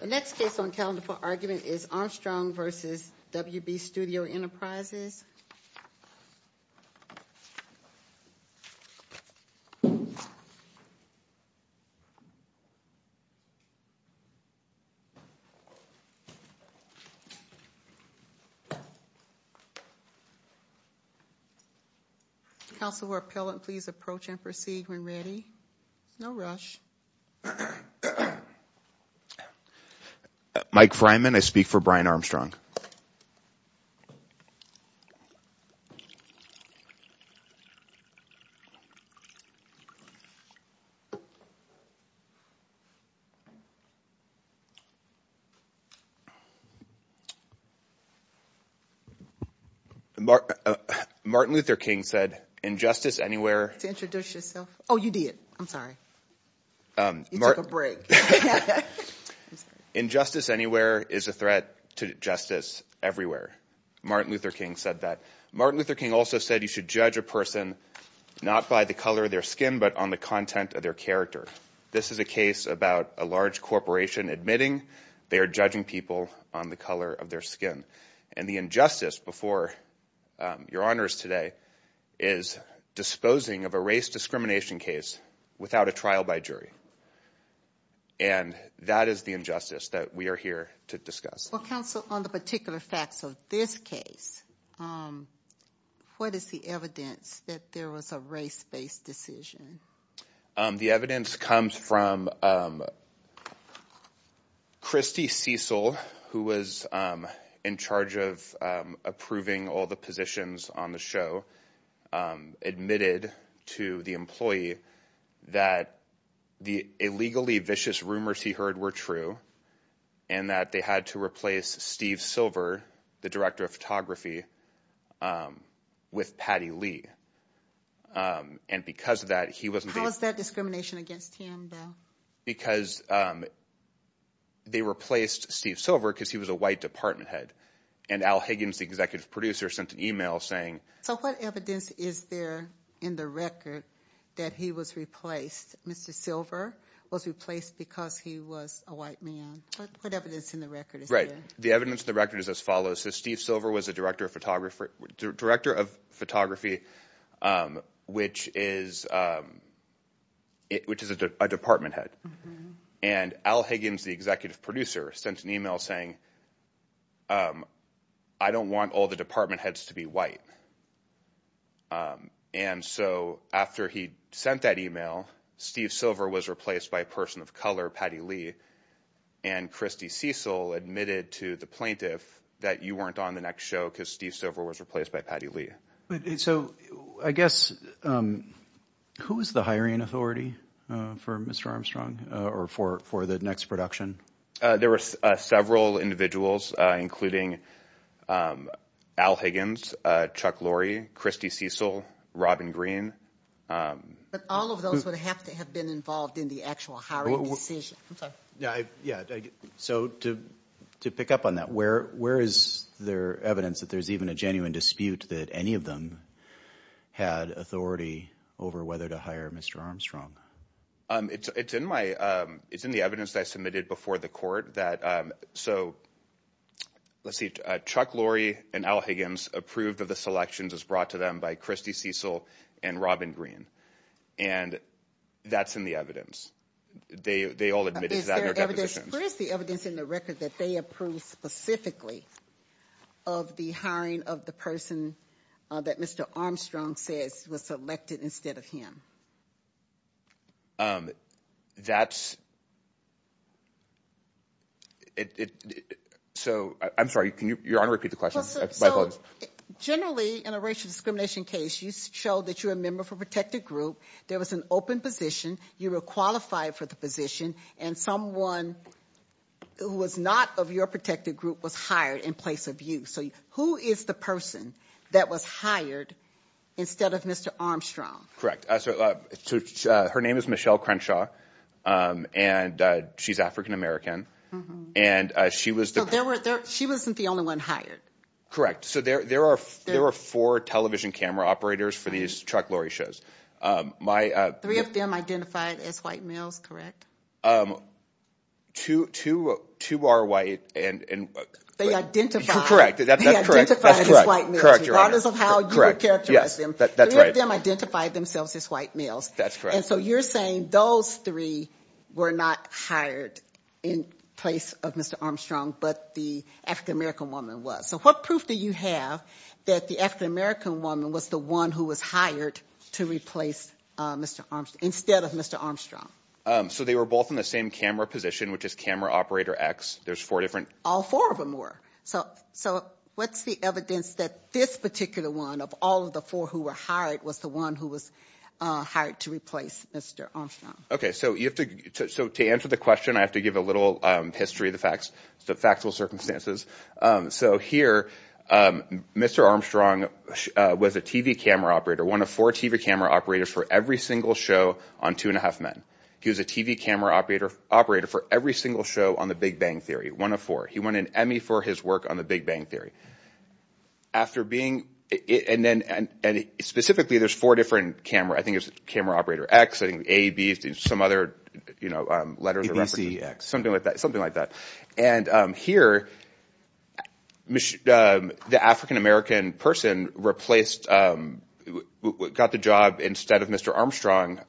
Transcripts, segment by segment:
The next case on the calendar for argument is Armstrong v. WB Studio Enterprises. Counselor or appellant please approach and proceed when ready. No rush. Mike Fryman, I speak for Brian Armstrong. Martin Luther King said, Injustice anywhere... Injustice anywhere is a threat to justice everywhere. Martin Luther King also said you should judge a person not by the color of their skin but on the content of their character. This is a case about a large corporation admitting they are judging people on the color of their skin. And the injustice before your honors today is disposing of a race discrimination case without a trial by jury. And that is the injustice that we are here to discuss. Counsel on the particular facts of this case, what is the evidence that there was a race based decision? The evidence comes from Christy Cecil who was in charge of approving all the positions on the show. The judge admitted to the employee that the illegally vicious rumors he heard were true. And that they had to replace Steve Silver, the director of photography, with Patty Lee. How is that discrimination against him though? Because they replaced Steve Silver because he was a white department head. And Al Higgins, the executive producer, sent an email saying... So what evidence is there in the record that he was replaced? Mr. Silver was replaced because he was a white man. The evidence in the record is as follows. Steve Silver was the director of photography which is a department head. And Al Higgins, the executive producer, sent an email saying, I don't want all the department heads to be white. And so after he sent that email, Steve Silver was replaced by a person of color, Patty Lee. And Christy Cecil admitted to the plaintiff that you weren't on the next show because Steve Silver was replaced by Patty Lee. So I guess, who is the hiring authority for Mr. Armstrong? Or for the next production? There were several individuals including Al Higgins, Chuck Lorre, Christy Cecil, Robin Green. But all of those would have to have been involved in the actual hiring decision. So to pick up on that, where is there evidence that there's even a genuine dispute that any of them had authority over whether to hire Mr. Armstrong? It's in the evidence that I submitted before the court. Chuck Lorre and Al Higgins approved of the selections as brought to them by Christy Cecil and Robin Green. And that's in the evidence. They all admitted to that in their depositions. Where is the evidence in the record that they approved specifically of the hiring of the person that Mr. Armstrong says was selected instead of him? That's... So, I'm sorry. Your Honor, repeat the question. Generally, in a racial discrimination case, you showed that you were a member of a protected group, there was an open position, you were qualified for the position, and someone who was not of your protected group was hired in place of you. So who is the person that was hired instead of Mr. Armstrong? Correct. So her name is Michelle Crenshaw, and she's African American. And she was the... So she wasn't the only one hired. Correct. So there were four television camera operators for these Chuck Lorre shows. Three of them identified as white males, correct? Two are white and... They identified as white males. That is how you would characterize them. Three of them identified themselves as white males. And so you're saying those three were not hired in place of Mr. Armstrong, but the African American woman was. So what proof do you have that the African American woman was the one who was hired to replace Mr. Armstrong, instead of Mr. Armstrong? They were both in the same camera position, which is camera operator X. There's four different... All four of them were. So what's the evidence that this particular one, of all of the four who were hired, was the one who was hired to replace Mr. Armstrong? Okay. So to answer the question, I have to give a little history of the facts, the factual circumstances. So here, Mr. Armstrong was a TV camera operator, one of four TV camera operators for every single show on Two and a Half Men. He was a TV camera operator for every single show on The Big Bang Theory, one of four. He won an Emmy for his work on The Big Bang Theory. And specifically, there's four different camera operators. I think it was camera operator X, A, B, C, X. Something like that. And here, the African American person got the job instead of Mr. Armstrong,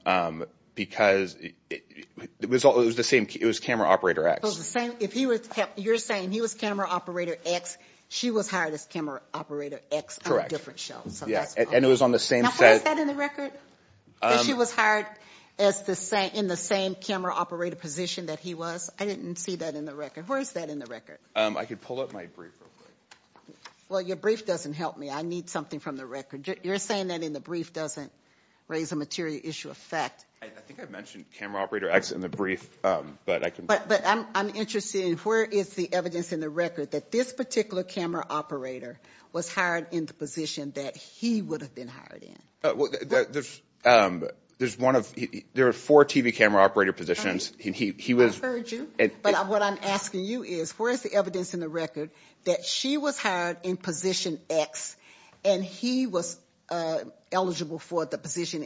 because it was camera operator X. You're saying he was camera operator X. She was hired as camera operator X on a different show. And it was on the same set. Was that in the record? That she was hired in the same camera operator position that he was? I didn't see that in the record. Where is that in the record? I could pull up my brief real quick. Well, your brief doesn't help me. I need something from the record. You're saying that in the brief doesn't raise a material issue of fact. I think I mentioned camera operator X in the brief. But I'm interested in where is the evidence in the record that this particular camera operator was hired in the position that he would have been hired in? There are four TV camera operator positions. I've heard you. But what I'm asking you is, where is the evidence in the record that she was hired in position X and he was eligible for the position?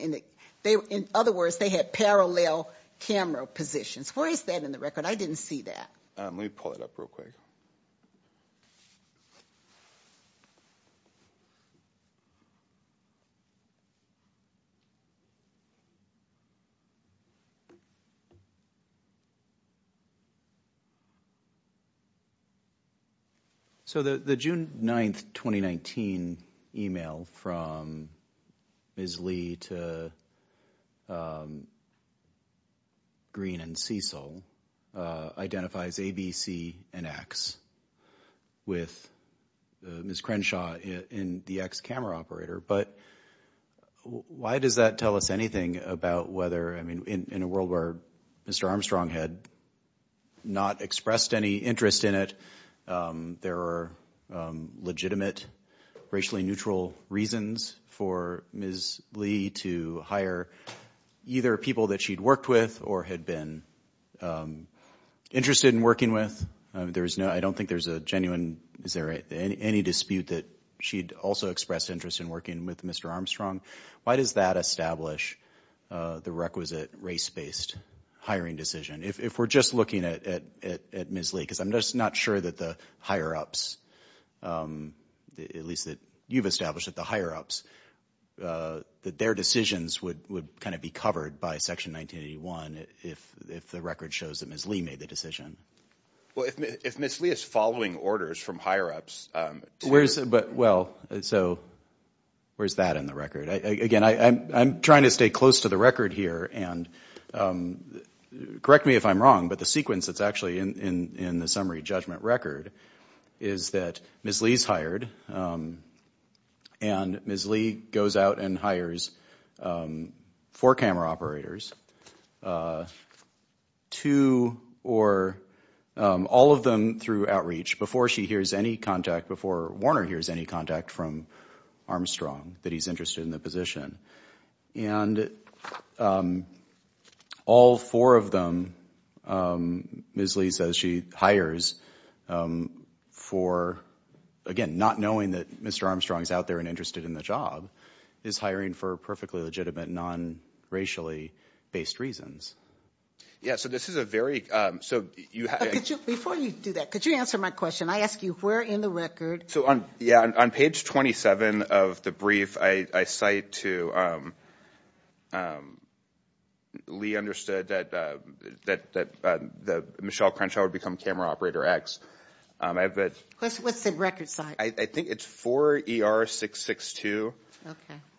In other words, they had parallel camera positions. Where is that in the record? I didn't see that. Let me pull it up real quick. Let me pull it up real quick. So the June 9th, 2019 email from Ms. Lee to Green and Cecil identifies ABC and X with Ms. Crenshaw in the X camera operator. But why does that tell us anything about whether in a world where Mr. Armstrong had not expressed any interest in it, there are legitimate racially neutral reasons for Ms. Crenshaw and Ms. Lee to hire either people that she'd worked with or had been interested in working with? I don't think there's a genuine, is there any dispute that she'd also expressed interest in working with Mr. Armstrong? Why does that establish the requisite race-based hiring decision? If we're just looking at Ms. Lee, because I'm just not sure that the higher-ups, at least that you've established that the higher-ups, that their decisions would kind of be covered by Section 1981 if the record shows that Ms. Lee made the decision. Well, if Ms. Lee is following orders from higher-ups. Well, so where's that in the record? Again, I'm trying to stay close to the record here. And correct me if I'm wrong, but the sequence that's actually in the summary judgment record is that Ms. Lee's hired and Ms. Lee goes out and hires four camera operators, two or all of them through outreach, before Warner hears any contact from Armstrong that he's interested in the position. All four of them, Ms. Lee says she hires for, again, not knowing that Mr. Armstrong's out there and interested in the job, is hiring for perfectly legitimate, non-racially based reasons. Before you do that, could you answer my question? I ask you, where in the record? On page 27 of the brief, I cite to, Lee understood that Michelle Crenshaw would become camera operator X. What's the record site? I think it's 4ER662.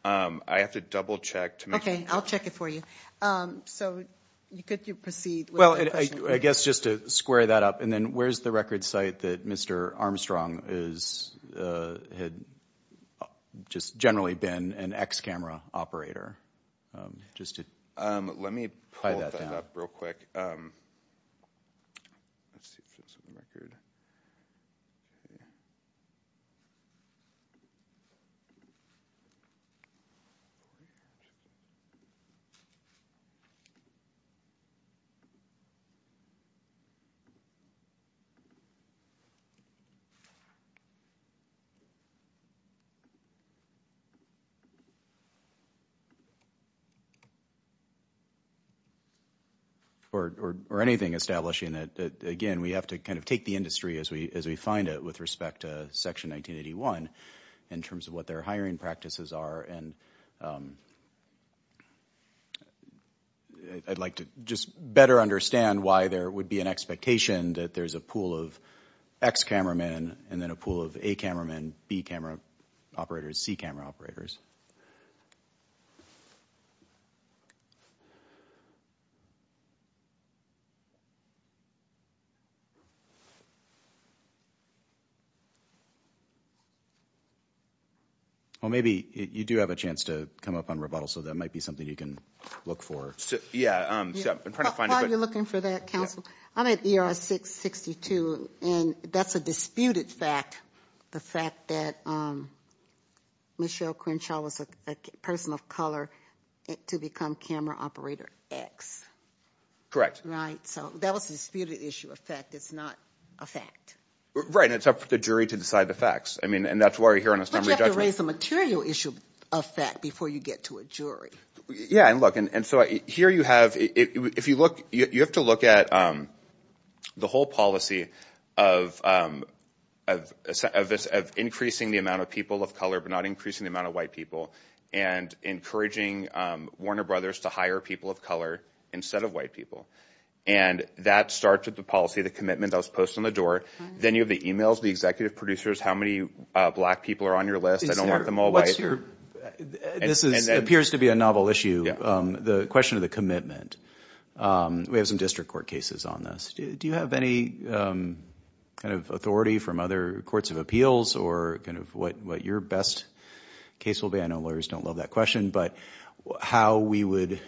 I have to double check. Okay, I'll check it for you. So could you proceed? Well, I guess just to square that up, and then where's the record site that Mr. Armstrong had just generally been an X camera operator? Let me pull that up real quick. Or anything establishing that, again, we have to kind of take the industry as we find it with respect to Section 1981, in terms of what their hiring practices are. I'd like to just better understand why there would be an expectation that there's a pool of X cameramen, and then a pool of A cameramen, B camera operators, C camera operators. Well, maybe you do have a chance to come up on rebuttal, so that might be something you can look for. While you're looking for that, counsel, I'm at ER662, and that's a disputed fact, the fact that Michelle Crenshaw was a person of color to become camera operator X. Correct. Right, and it's up to the jury to decide the facts. But you have to raise the material issue of fact before you get to a jury. Yeah, and look, and so here you have, if you look, you have to look at the whole policy of increasing the amount of people of color, but not increasing the amount of white people, and encouraging Warner Brothers to hire people of color instead of white people. And that starts with the policy, the commitment that was posted on the door. Then you have the emails, the executive producers, how many black people are on your list, I don't want them all white. This appears to be a novel issue, the question of the commitment. We have some district court cases on this. Do you have any kind of authority from other courts of appeals, or kind of what your best case will be? I know lawyers don't love that question. But how we would,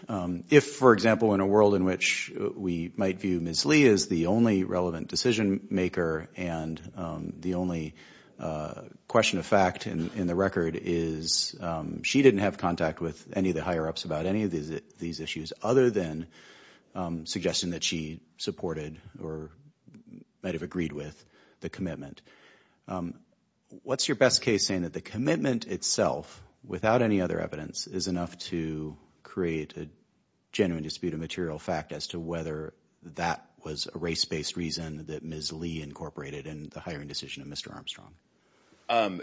if, for example, in a world in which we might view Ms. Lee as the only relevant decision maker, and the only question of fact in the record is she didn't have contact with any of the higher ups about any of these issues, other than suggesting that she supported, or might have agreed with, the commitment. What's your best case saying that the commitment itself, without any other evidence, is enough to create a genuine dispute of material fact as to whether that was a race-based reason that Ms. Lee incorporated in the hiring decision of Mr. Armstrong?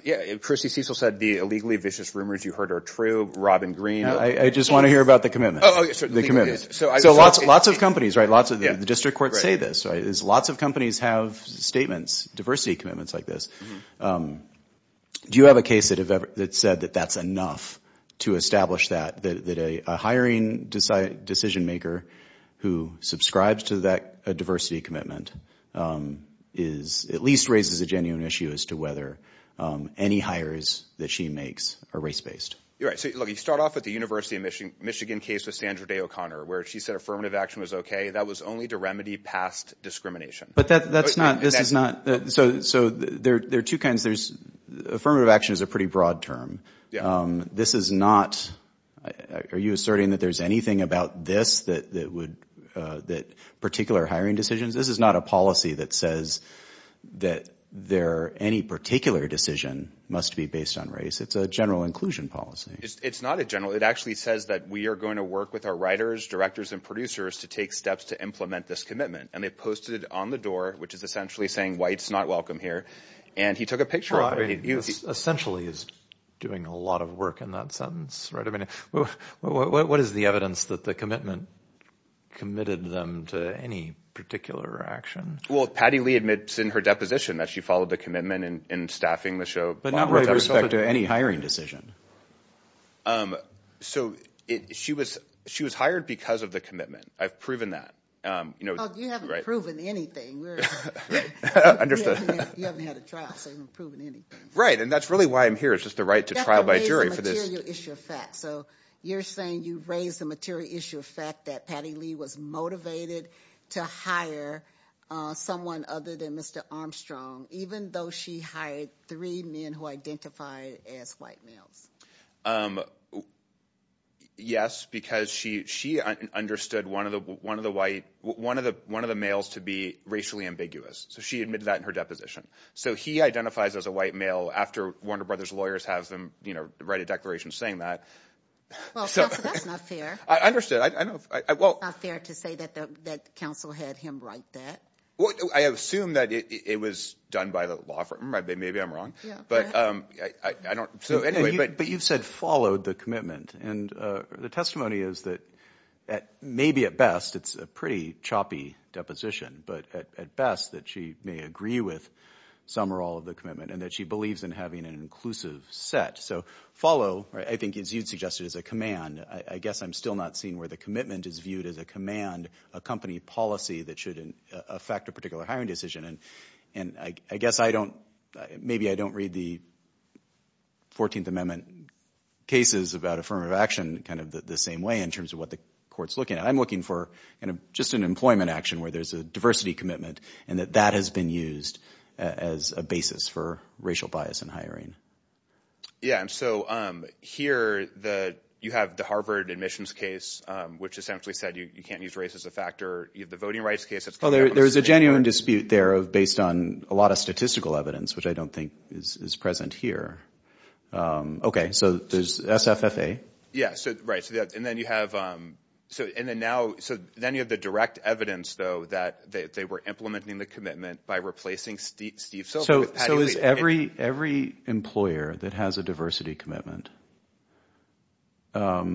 Yeah, Chrissy Cecil said the illegally vicious rumors you heard are true, Robin Green. I just want to hear about the commitment. So lots of companies, the district courts say this. Lots of companies have statements, diversity commitments like this. Do you have a case that said that that's enough to establish that? That a hiring decision maker who subscribes to that diversity commitment at least raises a genuine issue as to whether any hires that she makes are race-based? You start off with the University of Michigan case with Sandra Day O'Connor, where she said affirmative action was okay. That was only to remedy past discrimination. Affirmative action is a pretty broad term. Are you asserting that there's anything about this particular hiring decision? This is not a policy that says that any particular decision must be based on race. It's a general inclusion policy. It's not a general. It actually says that we are going to work with our writers, directors and producers to take steps to implement this commitment. And they posted it on the door, which is essentially saying whites not welcome here. And he took a picture of it. Essentially he's doing a lot of work in that sense. What is the evidence that the commitment committed them to any particular action? Well, Patty Lee admits in her deposition that she followed the commitment in staffing the show. But not with respect to any hiring decision. She was hired because of the commitment. I've proven that. You haven't proven anything. You haven't had a trial, so you haven't proven anything. Right, and that's really why I'm here. It's just the right to trial by jury for this. You're saying you raised the material issue of fact that Patty Lee was motivated to hire someone other than Mr. Armstrong, even though she hired three men who identified as white males. Yes, because she understood one of the males to be racially ambiguous. So she admitted that in her deposition. So he identifies as a white male after Warner Brothers lawyers have them write a declaration saying that. That's not fair. It's not fair to say that the council had him write that. Well, I assume that it was done by the law firm. Maybe I'm wrong. But you've said followed the commitment. And the testimony is that maybe at best it's a pretty choppy deposition. But at best that she may agree with some or all of the commitment and that she believes in having an inclusive set. So follow, I think as you suggested, is a command. I guess I'm still not seeing where the commitment is viewed as a command, a company policy that should affect a particular hiring decision. And I guess maybe I don't read the 14th Amendment cases about affirmative action kind of the same way in terms of what the court's looking at. I'm looking for just an employment action where there's a diversity commitment and that that has been used as a basis for racial bias in hiring. Yeah. So here you have the Harvard admissions case, which essentially said you can't use race as a factor. You have the voting rights case. There is a genuine dispute there based on a lot of statistical evidence, which I don't think is present here. OK. So there's SFFA. Yeah. Right. And then you have the direct evidence, though, that they were implementing the commitment by replacing Steve Silver. So is every employer that has a diversity commitment, why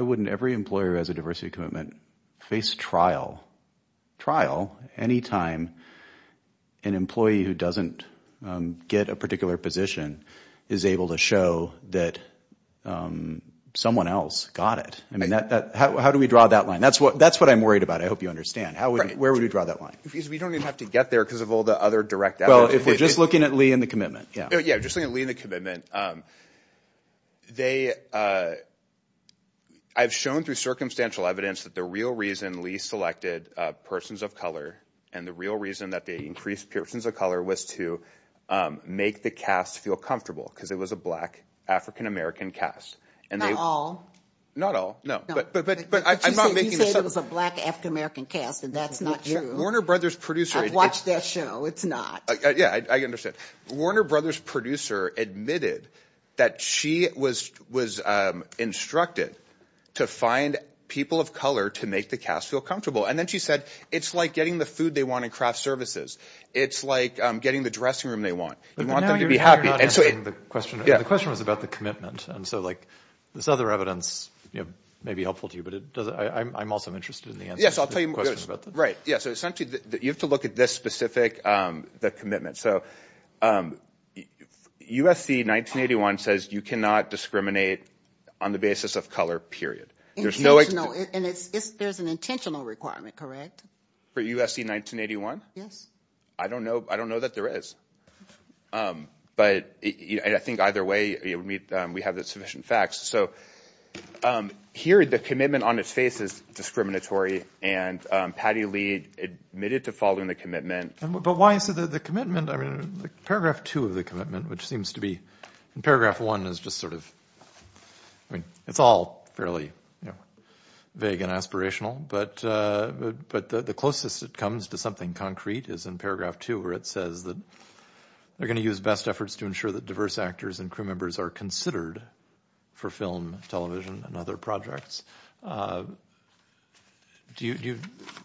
wouldn't every employer who has a diversity commitment face trial? Trial any time an employee who doesn't get a particular position is able to show that someone else got it? I mean, how do we draw that line? That's what that's what I'm worried about. I hope you understand. Where would we draw that line? We don't even have to get there because of all the other direct. Well, if we're just looking at Lee and the commitment. Yeah. Just Lee and the commitment. I've shown through circumstantial evidence that the real reason Lee selected persons of color and the real reason that they increased persons of color was to make the cast feel comfortable because it was a black African-American cast. Not all. Not all. No, but I'm not making this up. You say it was a black African-American cast and that's not true. Warner Brothers producer. I've watched that show. It's not. Yeah, I understand. Warner Brothers producer admitted that she was was instructed to find people of color to make the cast feel comfortable. And then she said, it's like getting the food they want and craft services. It's like getting the dressing room they want. They want them to be happy. The question was about the commitment. And so like this other evidence may be helpful to you, but I'm also interested in the answer. Yes, I'll tell you. Right. Yes. You have to look at this specific commitment. USC 1981 says you cannot discriminate on the basis of color, period. There's no way to know. And there's an intentional requirement. Correct. For USC 1981. Yes. I don't know. I don't know that there is. But I think either way, we have the sufficient facts. So here the commitment on its face is discriminatory. And Patty Lee admitted to following the commitment. But why is it that the commitment paragraph two of the commitment, which seems to be in paragraph one is just sort of. I mean, it's all fairly vague and aspirational. But but the closest it comes to something concrete is in paragraph two, where it says that they're going to use best efforts to ensure that diverse actors and crew members are considered for film, television and other projects. Do you.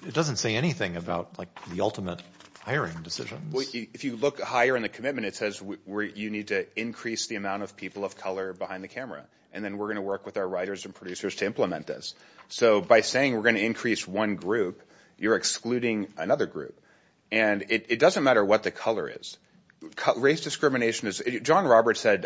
It doesn't say anything about the ultimate hiring decision. If you look higher in the commitment, it says you need to increase the amount of people of color behind the camera. And then we're going to work with our writers and producers to implement this. So by saying we're going to increase one group, you're excluding another group. And it doesn't matter what the color is. Race discrimination is. John Roberts said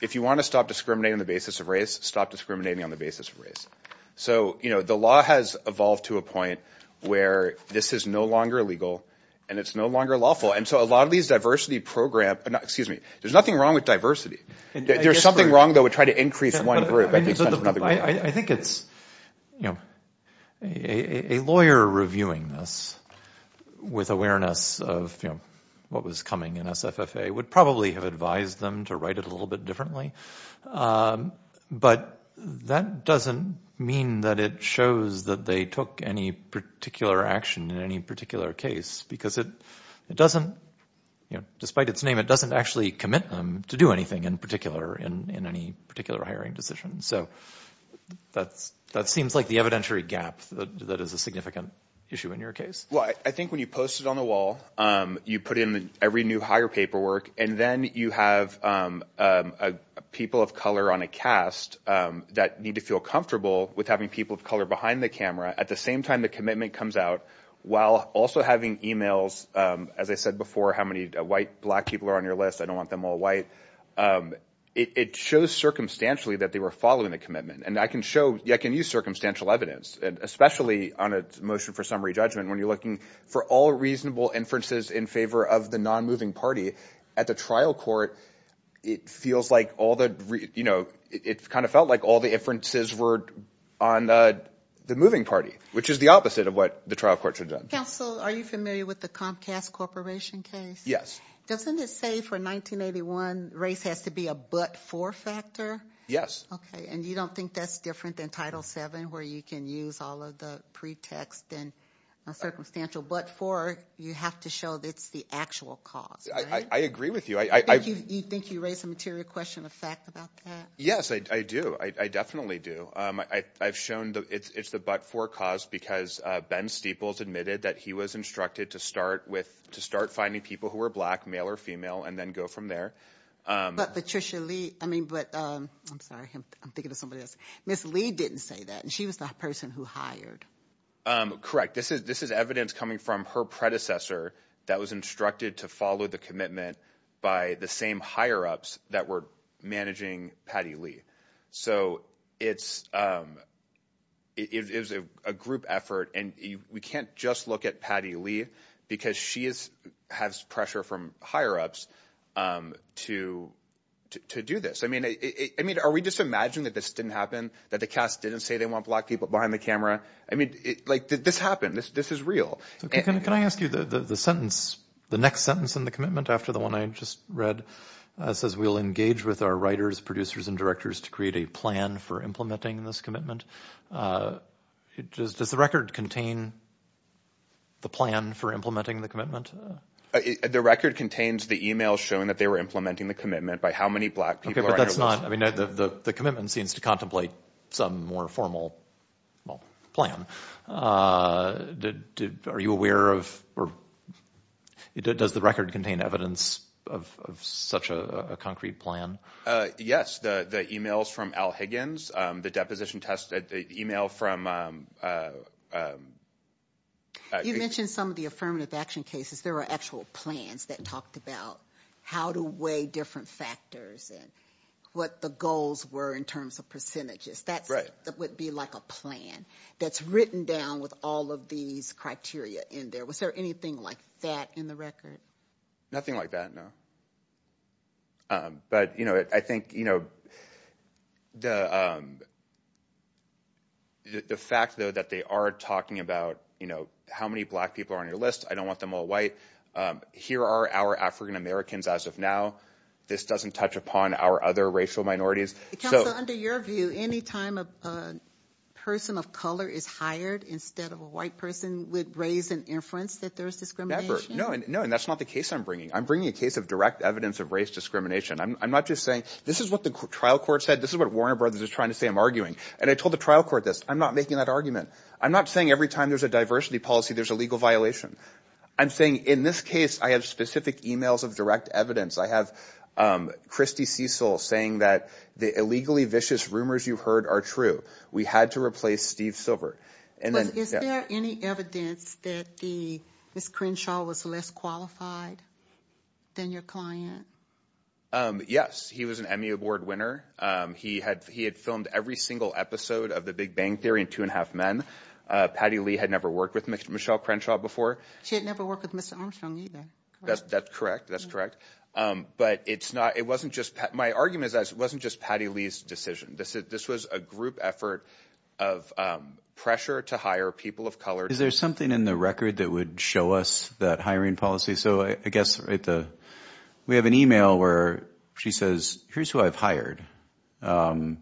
if you want to stop discriminating on the basis of race, stop discriminating on the basis of race. So, you know, the law has evolved to a point where this is no longer legal and it's no longer lawful. And so a lot of these diversity program excuse me, there's nothing wrong with diversity. There's something wrong that would try to increase one group. I think it's, you know, a lawyer reviewing this with awareness of, you know, what was coming in SFFA would probably have advised them to write it a little bit differently. But that doesn't mean that it shows that they took any particular action in any particular case, because it doesn't, you know, despite its name, it doesn't actually commit them to do anything in particular in any particular hiring decision. So that's that seems like the evidentiary gap that is a significant issue in your case. Well, I think when you post it on the wall, you put in every new higher paperwork. And then you have people of color on a cast that need to feel comfortable with having people of color behind the camera. At the same time, the commitment comes out while also having e-mails. As I said before, how many white black people are on your list? I don't want them all white. It shows circumstantially that they were following the commitment. And I can show I can use circumstantial evidence, especially on a motion for summary judgment, when you're looking for all reasonable inferences in favor of the non moving party at the trial court. It feels like all the you know, it kind of felt like all the inferences were on the moving party. Which is the opposite of what the trial courts are done. So are you familiar with the Comcast Corporation case? Yes. Doesn't it say for 1981 race has to be a but for factor? Yes. OK. And you don't think that's different than Title seven where you can use all of the pretext and a circumstantial but for you have to show that's the actual cause. I agree with you. I think you think you raise a material question of fact about that. Yes, I do. I definitely do. I've shown that it's the but for cause because Ben Steeples admitted that he was instructed to start with to start finding people who are black, male or female, and then go from there. But Patricia Lee. I mean, but I'm sorry. I'm thinking of somebody else. Miss Lee didn't say that. And she was the person who hired. Correct. This is this is evidence coming from her predecessor that was instructed to follow the commitment by the same higher ups that were managing Patty Lee. So it's it is a group effort. And we can't just look at Patty Lee because she is has pressure from higher ups to to do this. I mean, I mean, are we just imagine that this didn't happen, that the cast didn't say they want black people behind the camera? I mean, like, did this happen? This this is real. Can I ask you the sentence, the next sentence in the commitment after the one I just read says we'll engage with our writers, producers and directors to create a plan for implementing this commitment. Does the record contain the plan for implementing the commitment? The record contains the email showing that they were implementing the commitment by how many black people. That's not I mean, the commitment seems to did. Are you aware of or does the record contain evidence of such a concrete plan? Yes. The emails from Al Higgins, the deposition test email from. You mentioned some of the affirmative action cases. There are actual plans that talked about how to weigh different factors and what the goals were in terms of percentages. That's right. That would be like a plan that's written down with all of these criteria in there. Was there anything like that in the record? Nothing like that. No. But, you know, I think, you know, the the fact, though, that they are talking about, you know, how many black people are on your list? I don't want them all white. Here are our African-Americans as of now. This doesn't touch upon our other racial minorities. So under your view, any time a person of color is hired instead of a white person would raise an inference that there is discrimination. No, no. And that's not the case I'm bringing. I'm bringing a case of direct evidence of race discrimination. I'm not just saying this is what the trial court said. This is what Warner Brothers is trying to say. I'm arguing. And I told the trial court this. I'm not making that argument. I'm not saying every time there's a diversity policy, there's a legal violation. I'm saying in this case, I have specific emails of direct evidence. I have Christie Cecil saying that the illegally vicious rumors you've heard are true. We had to replace Steve Silver. And then is there any evidence that the screen show was less qualified than your client? Yes. He was an Emmy Award winner. He had he had filmed every single episode of the Big Bang Theory in two and a half men. Patty Lee had never worked with Michelle Crenshaw before. She had never worked with Mr. Armstrong either. That's correct. That's correct. But it's not it wasn't just my argument is that it wasn't just Patty Lee's decision. This was a group effort of pressure to hire people of color. Is there something in the record that would show us that hiring policy? So I guess we have an email where she says, here's who I've hired. And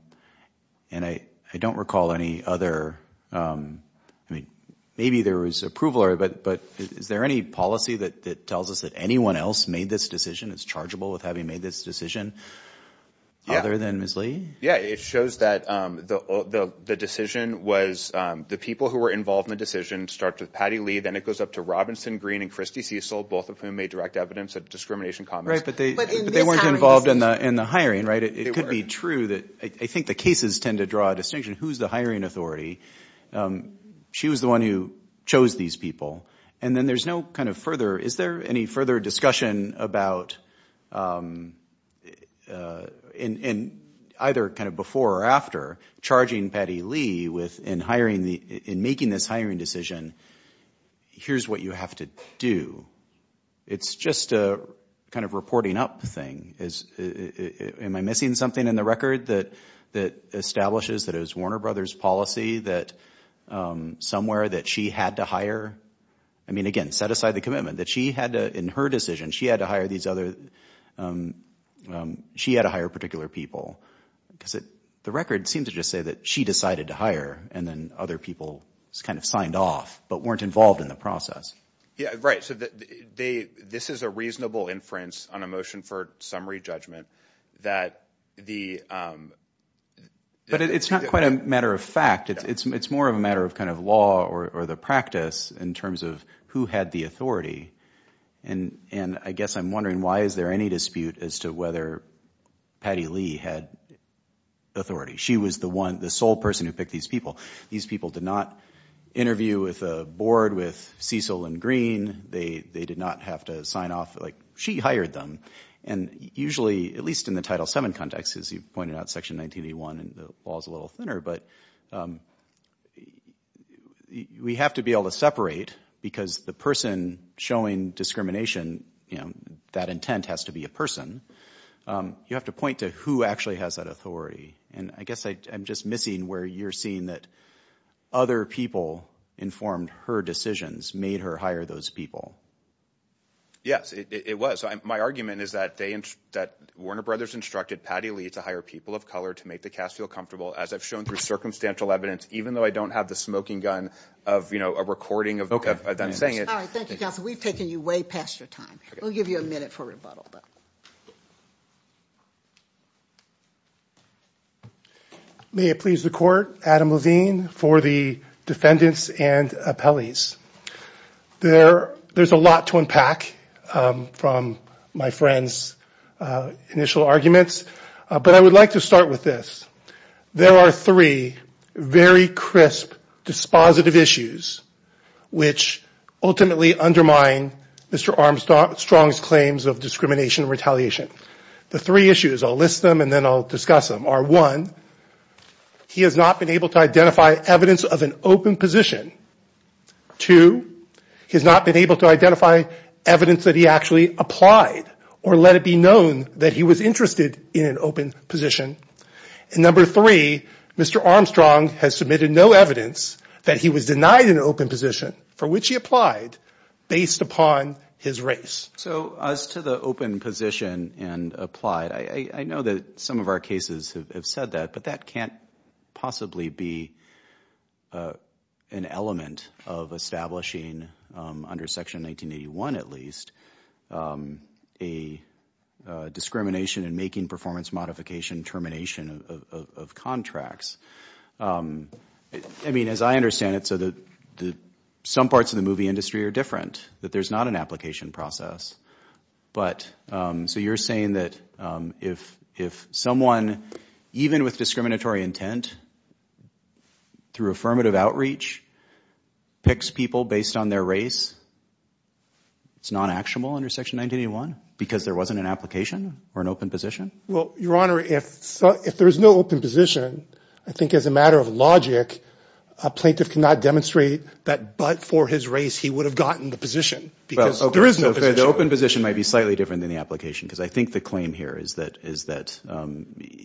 I don't recall any other. I mean, maybe there was approval or but but is there any policy that tells us that anyone else made this decision? It's chargeable with having made this decision. Yeah. Other than Miss Lee. Yeah. It shows that the decision was the people who were involved in the decision start with Patty Lee. Then it goes up to Robinson Green and Christy Cecil, both of whom made direct evidence of discrimination. Right. But they weren't involved in the in the hiring. Right. It could be true that I think the cases tend to draw a distinction. Who's the hiring authority? She was the one who chose these people. And then there's no kind of further. Is there any further discussion about in either kind of before or after charging Patty Lee within hiring the in making this hiring decision? Here's what you have to do. It's just a kind of reporting up thing. Is it am I missing something in the record that that establishes that it was Warner Brothers policy that somewhere that she had to hire? I mean, again, set aside the commitment that she had to in her decision, she had to hire these other. She had to hire particular people because the record seems to just say that she decided to hire and then other people kind of signed off but weren't involved in the process. Yeah, right. So they this is a reasonable inference on a motion for summary judgment that the. But it's not quite a matter of fact. It's it's it's more of a matter of kind of law or the practice in terms of who had the authority. And and I guess I'm wondering, why is there any dispute as to whether Patty Lee had authority? She was the one the sole person who picked these people. These people did not interview with a board with Cecil and Green. They they did not have to sign off like she hired them. And usually at least in the title seven context, as you pointed out, Section 1981 and the law is a little thinner. But we have to be able to separate because the person showing discrimination that intent has to be a person. You have to point to who actually has that authority. And I guess I'm just missing where you're seeing that other people informed her decisions made her hire those people. Yes, it was. My argument is that they that Warner Brothers instructed Patty Lee to hire people of color to make the cast feel comfortable, as I've shown through circumstantial evidence, even though I don't have the smoking gun of a recording of them saying it. We've taken you way past your time. We'll give you a minute for rebuttal. May it please the court. Adam Levine for the defendants and appellees there. There's a lot to unpack from my friend's initial arguments. But I would like to start with this. There are three very crisp, dispositive issues which ultimately undermine Mr. Armstrong's claims of discrimination and retaliation. The three issues, I'll list them and then I'll discuss them, are one, he has not been able to identify evidence of an open position. Two, he's not been able to identify evidence that he actually applied or let it be known that he was interested in an open position. And number three, Mr. Armstrong has submitted no evidence that he was denied an open position for which he applied based upon his race. So as to the open position and applied, I know that some of our cases have said that, but that can't possibly be an element of establishing under Section 1981 at least a discrimination in making performance modification termination of contracts. I mean, as I understand it, some parts of the movie industry are different, that there's not an application process. So you're saying that if someone, even with discriminatory intent through affirmative outreach, picks people based on their race, it's not actionable under Section 1981 because there wasn't an application or an open position? Well, Your Honor, if there's no open position, I think as a matter of logic, a plaintiff cannot demonstrate that but for his race he would have gotten the position. The open position might be slightly different than the application because I think the claim here is that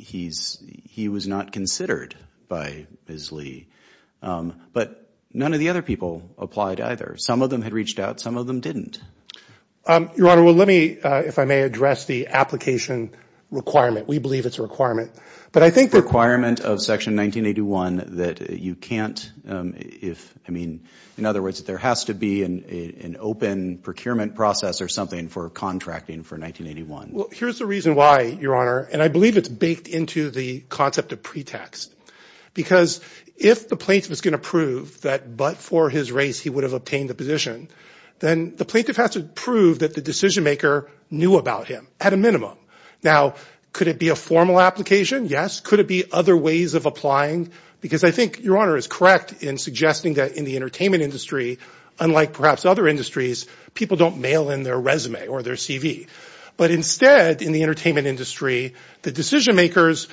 he was not considered by Ms. Lee. But none of the other people applied either. Some of them had reached out, some of them didn't. Your Honor, well, let me, if I may, address the application requirement. We believe it's a requirement, but I think that... It's a requirement of Section 1981 that you can't, if, I mean, in other words, there has to be an open procurement process or something for contracting for 1981. Well, here's the reason why, Your Honor, and I believe it's baked into the concept of pretext. Because if the plaintiff is going to prove that but for his race he would have obtained the position, then the plaintiff has to prove that the decision maker knew about him at a minimum. Now, could it be a formal application? Yes. Could it be other ways of applying? Because I think, Your Honor, it's correct in suggesting that in the entertainment industry, unlike perhaps other industries, people don't mail in their resume or their CV. But instead, in the entertainment industry, the decision makers,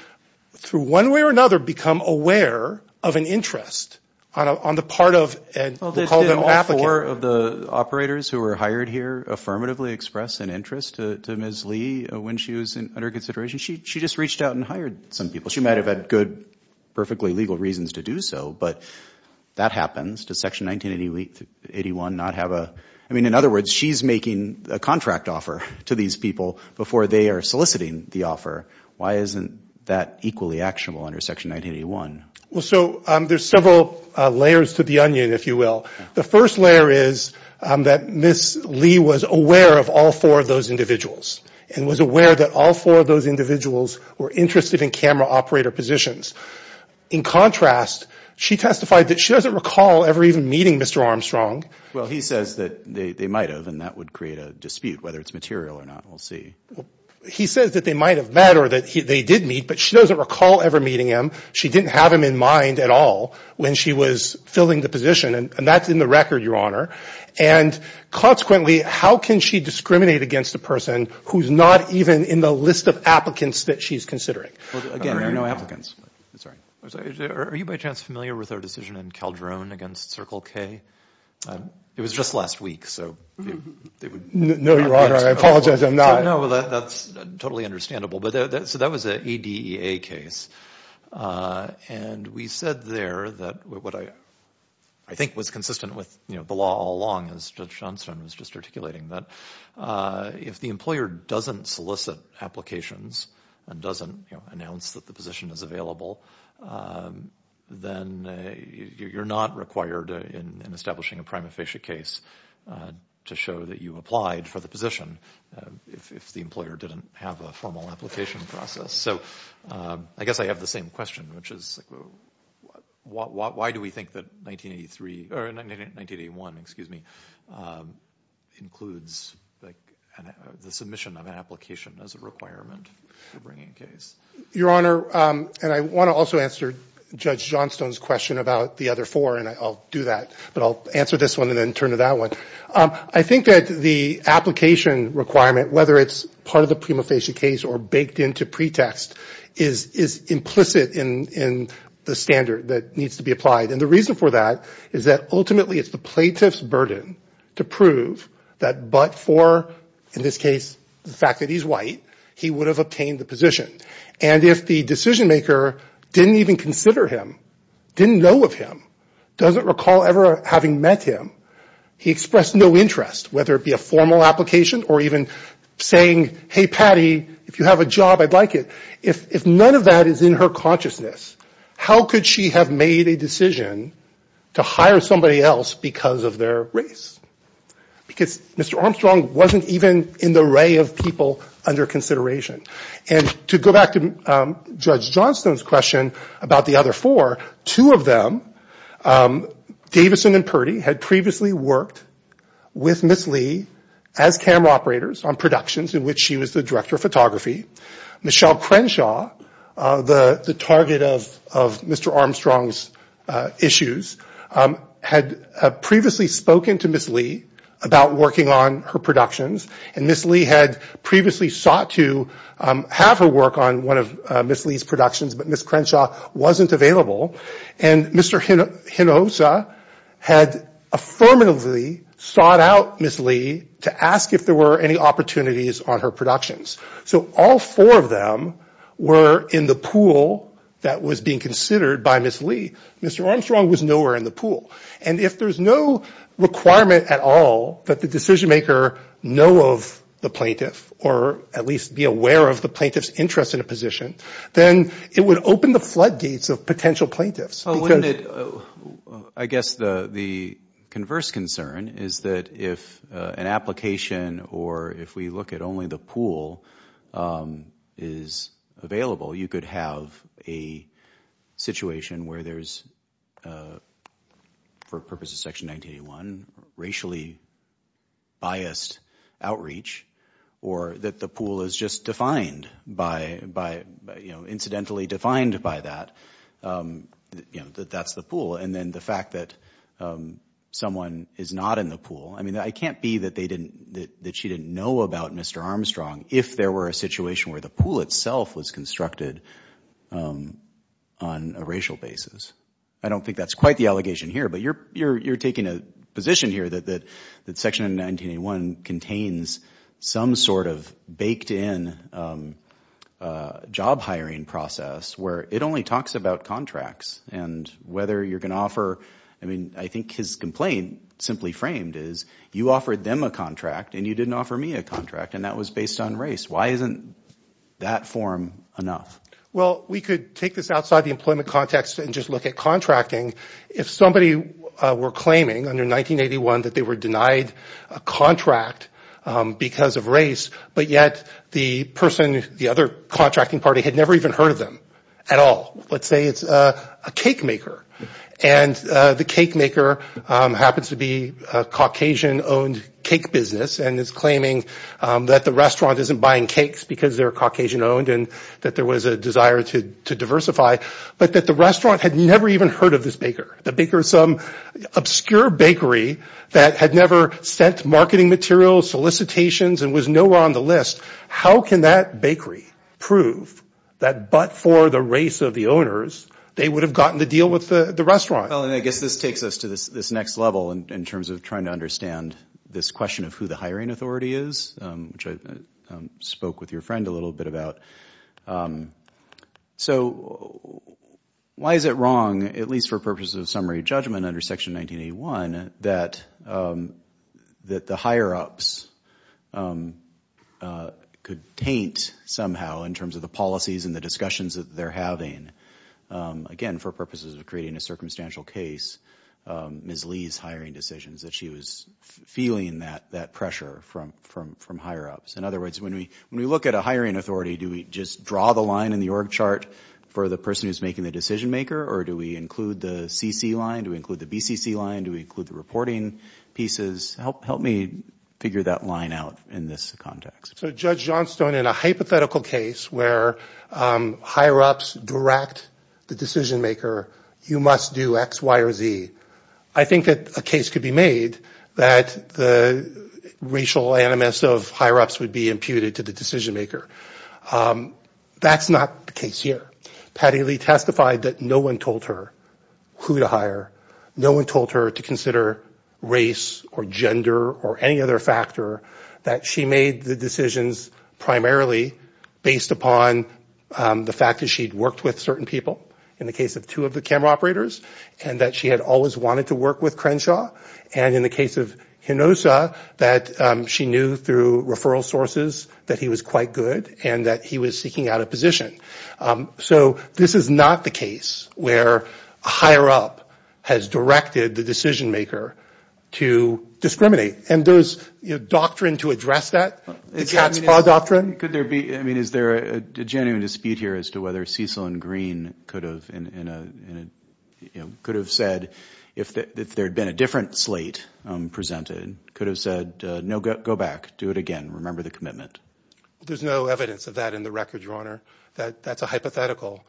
through one way or another, become aware of an interest on the part of, we'll call them applicants. Did all four of the operators who were hired here affirmatively express an interest to Ms. Lee when she was under consideration? She just reached out and hired some people. She might have had good, perfectly legal reasons to do so, but that happens. Does Section 1981 not have a – I mean, in other words, she's making a contract offer to these people before they are soliciting the offer. Why isn't that equally actionable under Section 1981? Well, so there's several layers to the onion, if you will. The first layer is that Ms. Lee was aware of all four of those individuals and was aware that all four of those individuals were interested in camera operator positions. In contrast, she testified that she doesn't recall ever even meeting Mr. Armstrong. Well, he says that they might have, and that would create a dispute, whether it's material or not. We'll see. He says that they might have met or that they did meet, but she doesn't recall ever meeting him. She didn't have him in mind at all when she was filling the position, and that's in the record, Your Honor. And consequently, how can she discriminate against a person who's not even in the list of applicants that she's considering? Well, again, there are no applicants. I'm sorry. Are you by chance familiar with our decision in Calderon against Circle K? It was just last week, so they would – No, Your Honor. I apologize. I'm not – No, that's totally understandable. So that was an ADEA case, and we said there that what I think was consistent with the law all along, as Judge Johnstone was just articulating, that if the employer doesn't solicit applications and doesn't announce that the position is available, then you're not required in establishing a prima facie case to show that you applied for the position if the employer didn't have a formal application process. So I guess I have the same question, which is why do we think that 1983 – or 1981, excuse me, includes the submission of an application as a requirement for bringing a case? Your Honor, and I want to also answer Judge Johnstone's question about the other four, and I'll do that, but I'll answer this one and then turn to that one. I think that the application requirement, whether it's part of the prima facie case or baked into pretext, is implicit in the standard that needs to be applied. And the reason for that is that ultimately it's the plaintiff's burden to prove that but for, in this case, the fact that he's white, he would have obtained the position. And if the decision maker didn't even consider him, didn't know of him, doesn't recall ever having met him, he expressed no interest, whether it be a formal application or even saying, hey, Patty, if you have a job, I'd like it, if none of that is in her consciousness, how could she have made a decision to hire somebody else because of their race? Because Mr. Armstrong wasn't even in the array of people under consideration. And to go back to Judge Johnstone's question about the other four, two of them, Davison and Purdy had previously worked with Ms. Lee as camera operators on productions in which she was the director of photography. Michelle Crenshaw, the target of Mr. Armstrong's issues, had previously spoken to Ms. Lee about working on her productions and Ms. Lee had previously sought to have her work on one of Ms. Lee's productions, but Ms. Crenshaw wasn't available. And Mr. Hinojosa had affirmatively sought out Ms. Lee to ask if there were any opportunities on her productions. So all four of them were in the pool that was being considered by Ms. Lee. Mr. Armstrong was nowhere in the pool. And if there's no requirement at all that the decision maker know of the plaintiff or at least be aware of the plaintiff's interest in a position, then it would open the floodgates of potential plaintiffs. I guess the converse concern is that if an application or if we look at only the pool is available, you could have a situation where there's, for purposes of Section 1981, racially biased outreach or that the pool is just defined by, incidentally defined by that, that that's the pool. And then the fact that someone is not in the pool. I mean, it can't be that she didn't know about Mr. Armstrong if there were a situation where the pool itself was constructed on a racial basis. I don't think that's quite the allegation here, but you're taking a position here that Section 1981 contains some sort of baked in job hiring process where it only talks about contracts and whether you're going to offer. I mean, I think his complaint simply framed is you offered them a contract and you didn't offer me a contract, and that was based on race. Why isn't that form enough? Well, we could take this outside the employment context and just look at contracting. If somebody were claiming under 1981 that they were denied a contract because of race, but yet the person, the other contracting party had never even heard of them at all. Let's say it's a cake maker, and the cake maker happens to be a Caucasian-owned cake business and is claiming that the restaurant isn't buying cakes because they're Caucasian-owned and that there was a desire to diversify, but that the restaurant had never even heard of this baker. The baker is some obscure bakery that had never sent marketing materials, solicitations, and was nowhere on the list. How can that bakery prove that but for the race of the owners, they would have gotten the deal with the restaurant? Well, and I guess this takes us to this next level in terms of trying to understand this question of who the hiring authority is, which I spoke with your friend a little bit about. So why is it wrong, at least for purposes of summary judgment under Section 1981, that the higher-ups could taint somehow in terms of the policies and the discussions that they're having? Again, for purposes of creating a circumstantial case, Ms. Lee's hiring decisions, that she was feeling that pressure from higher-ups. In other words, when we look at a hiring authority, do we just draw the line in the org chart for the person who's making the decision-maker, or do we include the CC line? Do we include the BCC line? Do we include the reporting pieces? Help me figure that line out in this context. So, Judge Johnstone, in a hypothetical case where higher-ups direct the decision-maker, you must do X, Y, or Z, I think that a case could be made that the racial animus of higher-ups would be imputed to the decision-maker. That's not the case here. Patty Lee testified that no one told her who to hire. No one told her to consider race or gender or any other factor, that she made the decisions primarily based upon the fact that she'd worked with certain people, in the case of two of the camera operators, and that she had always wanted to work with Crenshaw, and in the case of Hinosa, that she knew through referral sources that he was quite good and that he was seeking out a position. So this is not the case where a higher-up has directed the decision-maker to discriminate. And there's doctrine to address that, the cat's paw doctrine. Is there a genuine dispute here as to whether Cecil and Green could have said, if there had been a different slate presented, could have said, no, go back, do it again, remember the commitment? There's no evidence of that in the record, Your Honor. That's a hypothetical,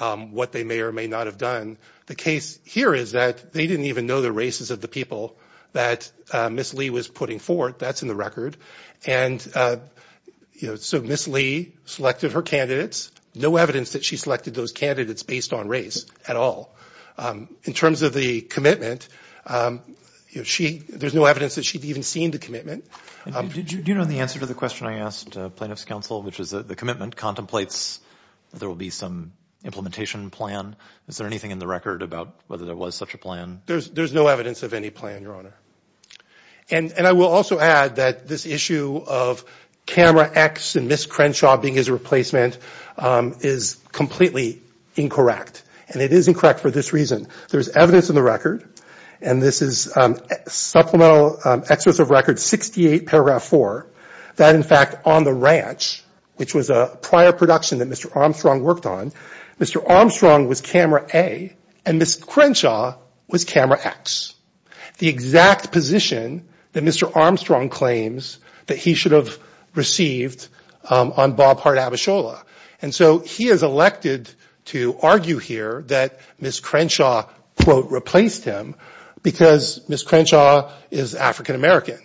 what they may or may not have done. The case here is that they didn't even know the races of the people that Ms. Lee was putting forward. That's in the record. And so Ms. Lee selected her candidates. No evidence that she selected those candidates based on race at all. In terms of the commitment, there's no evidence that she'd even seen the commitment. Do you know the answer to the question I asked plaintiff's counsel, which is that the commitment contemplates that there will be some implementation plan? Is there anything in the record about whether there was such a plan? There's no evidence of any plan, Your Honor. And I will also add that this issue of camera X and Ms. Crenshaw being his replacement is completely incorrect. And it is incorrect for this reason. There's evidence in the record, and this is supplemental excerpts of record 68, paragraph 4, that in fact on the ranch, which was a prior production that Mr. Armstrong worked on, Mr. Armstrong was camera A and Ms. Crenshaw was camera X. The exact position that Mr. Armstrong claims that he should have received on Bob Hart Abishola. And so he is elected to argue here that Ms. Crenshaw, quote, replaced him because Ms. Crenshaw is African American.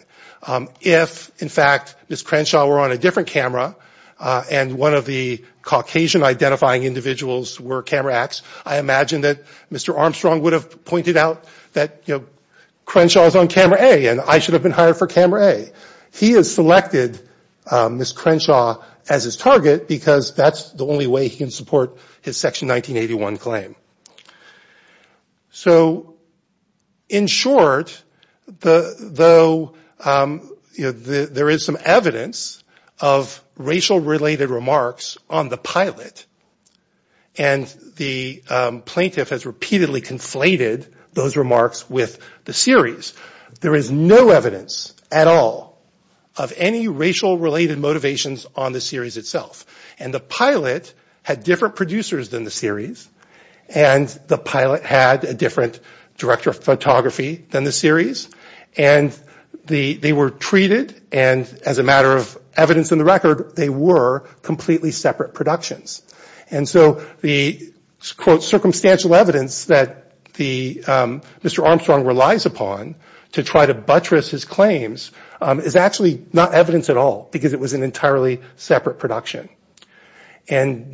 If, in fact, Ms. Crenshaw were on a different camera and one of the Caucasian identifying individuals were camera X, I imagine that Mr. Armstrong would have pointed out that Crenshaw is on camera A and I should have been hired for camera A. He has selected Ms. Crenshaw as his target because that's the only way he can support his section 1981 claim. So in short, though there is some evidence of racial related remarks on the pilot, and the plaintiff has repeatedly conflated those remarks with the series, there is no evidence at all of any racial related motivations on the series itself. And the pilot had different producers than the series and the pilot had a different director of photography than the series. And they were treated, and as a matter of evidence in the record, they were completely separate productions. And so the, quote, circumstantial evidence that Mr. Armstrong relies upon to try to buttress his claims is actually not evidence at all And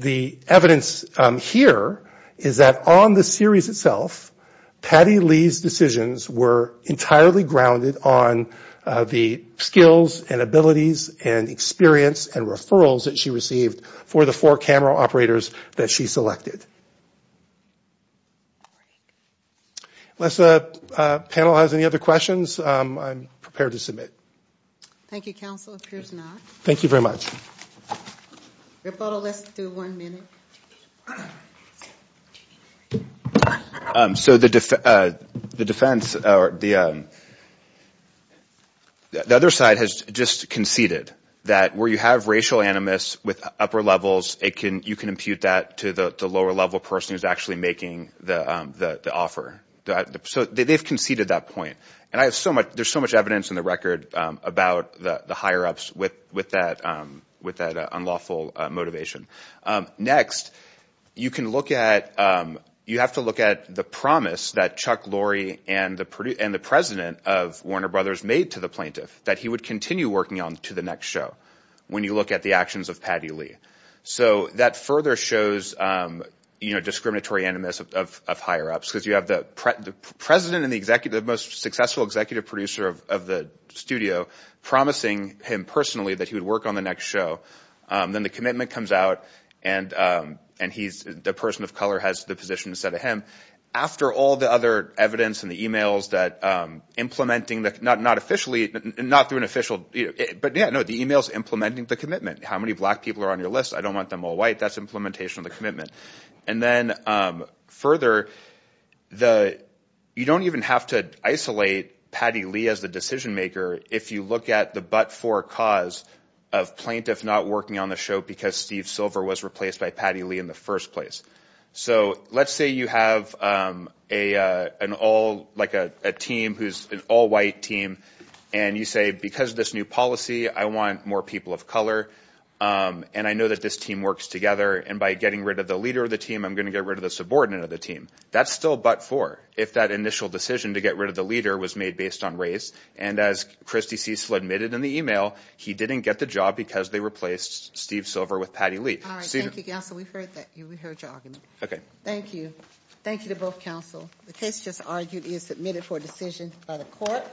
the evidence here is that on the series itself, Patty Lee's decisions were entirely grounded on the skills and abilities and experience and referrals that she received for the four camera operators that she selected. Unless the panel has any other questions, I'm prepared to submit. Thank you, counsel. If there's not, thank you very much. So the defense, the other side has just conceded that where you have racial animus with upper levels, you can impute that to the lower level person who's actually making the offer. So they've conceded that point. And I have so much, there's so much evidence in the record about the higher ups with that unlawful motivation. Next, you can look at, you have to look at the promise that Chuck Lorre and the president of Warner Brothers made to the plaintiff, that he would continue working on to the next show when you look at the actions of Patty Lee. So that further shows, you know, discriminatory animus of higher ups, because you have the president and the executive, the most successful executive producer of the studio promising him personally that he would work on the next show. Then the commitment comes out and he's the person of color has the position instead of him. After all the other evidence and the e-mails that implementing the not not officially not through an official. But the e-mails implementing the commitment, how many black people are on your list? I don't want them all white. That's implementation of the commitment. And then further, you don't even have to isolate Patty Lee as the decision maker. If you look at the but for cause of plaintiff not working on the show because Steve Silver was replaced by Patty Lee in the first place. So let's say you have an all like a team who's an all white team. And you say, because of this new policy, I want more people of color. And I know that this team works together. And by getting rid of the leader of the team, I'm going to get rid of the subordinate of the team. That's still but for if that initial decision to get rid of the leader was made based on race. And as Christie Cecil admitted in the e-mail, he didn't get the job because they replaced Steve Silver with Patty Lee. All right. Thank you. So we've heard that you heard your argument. OK, thank you. Thank you to both counsel. The case just argued is submitted for decision by the court.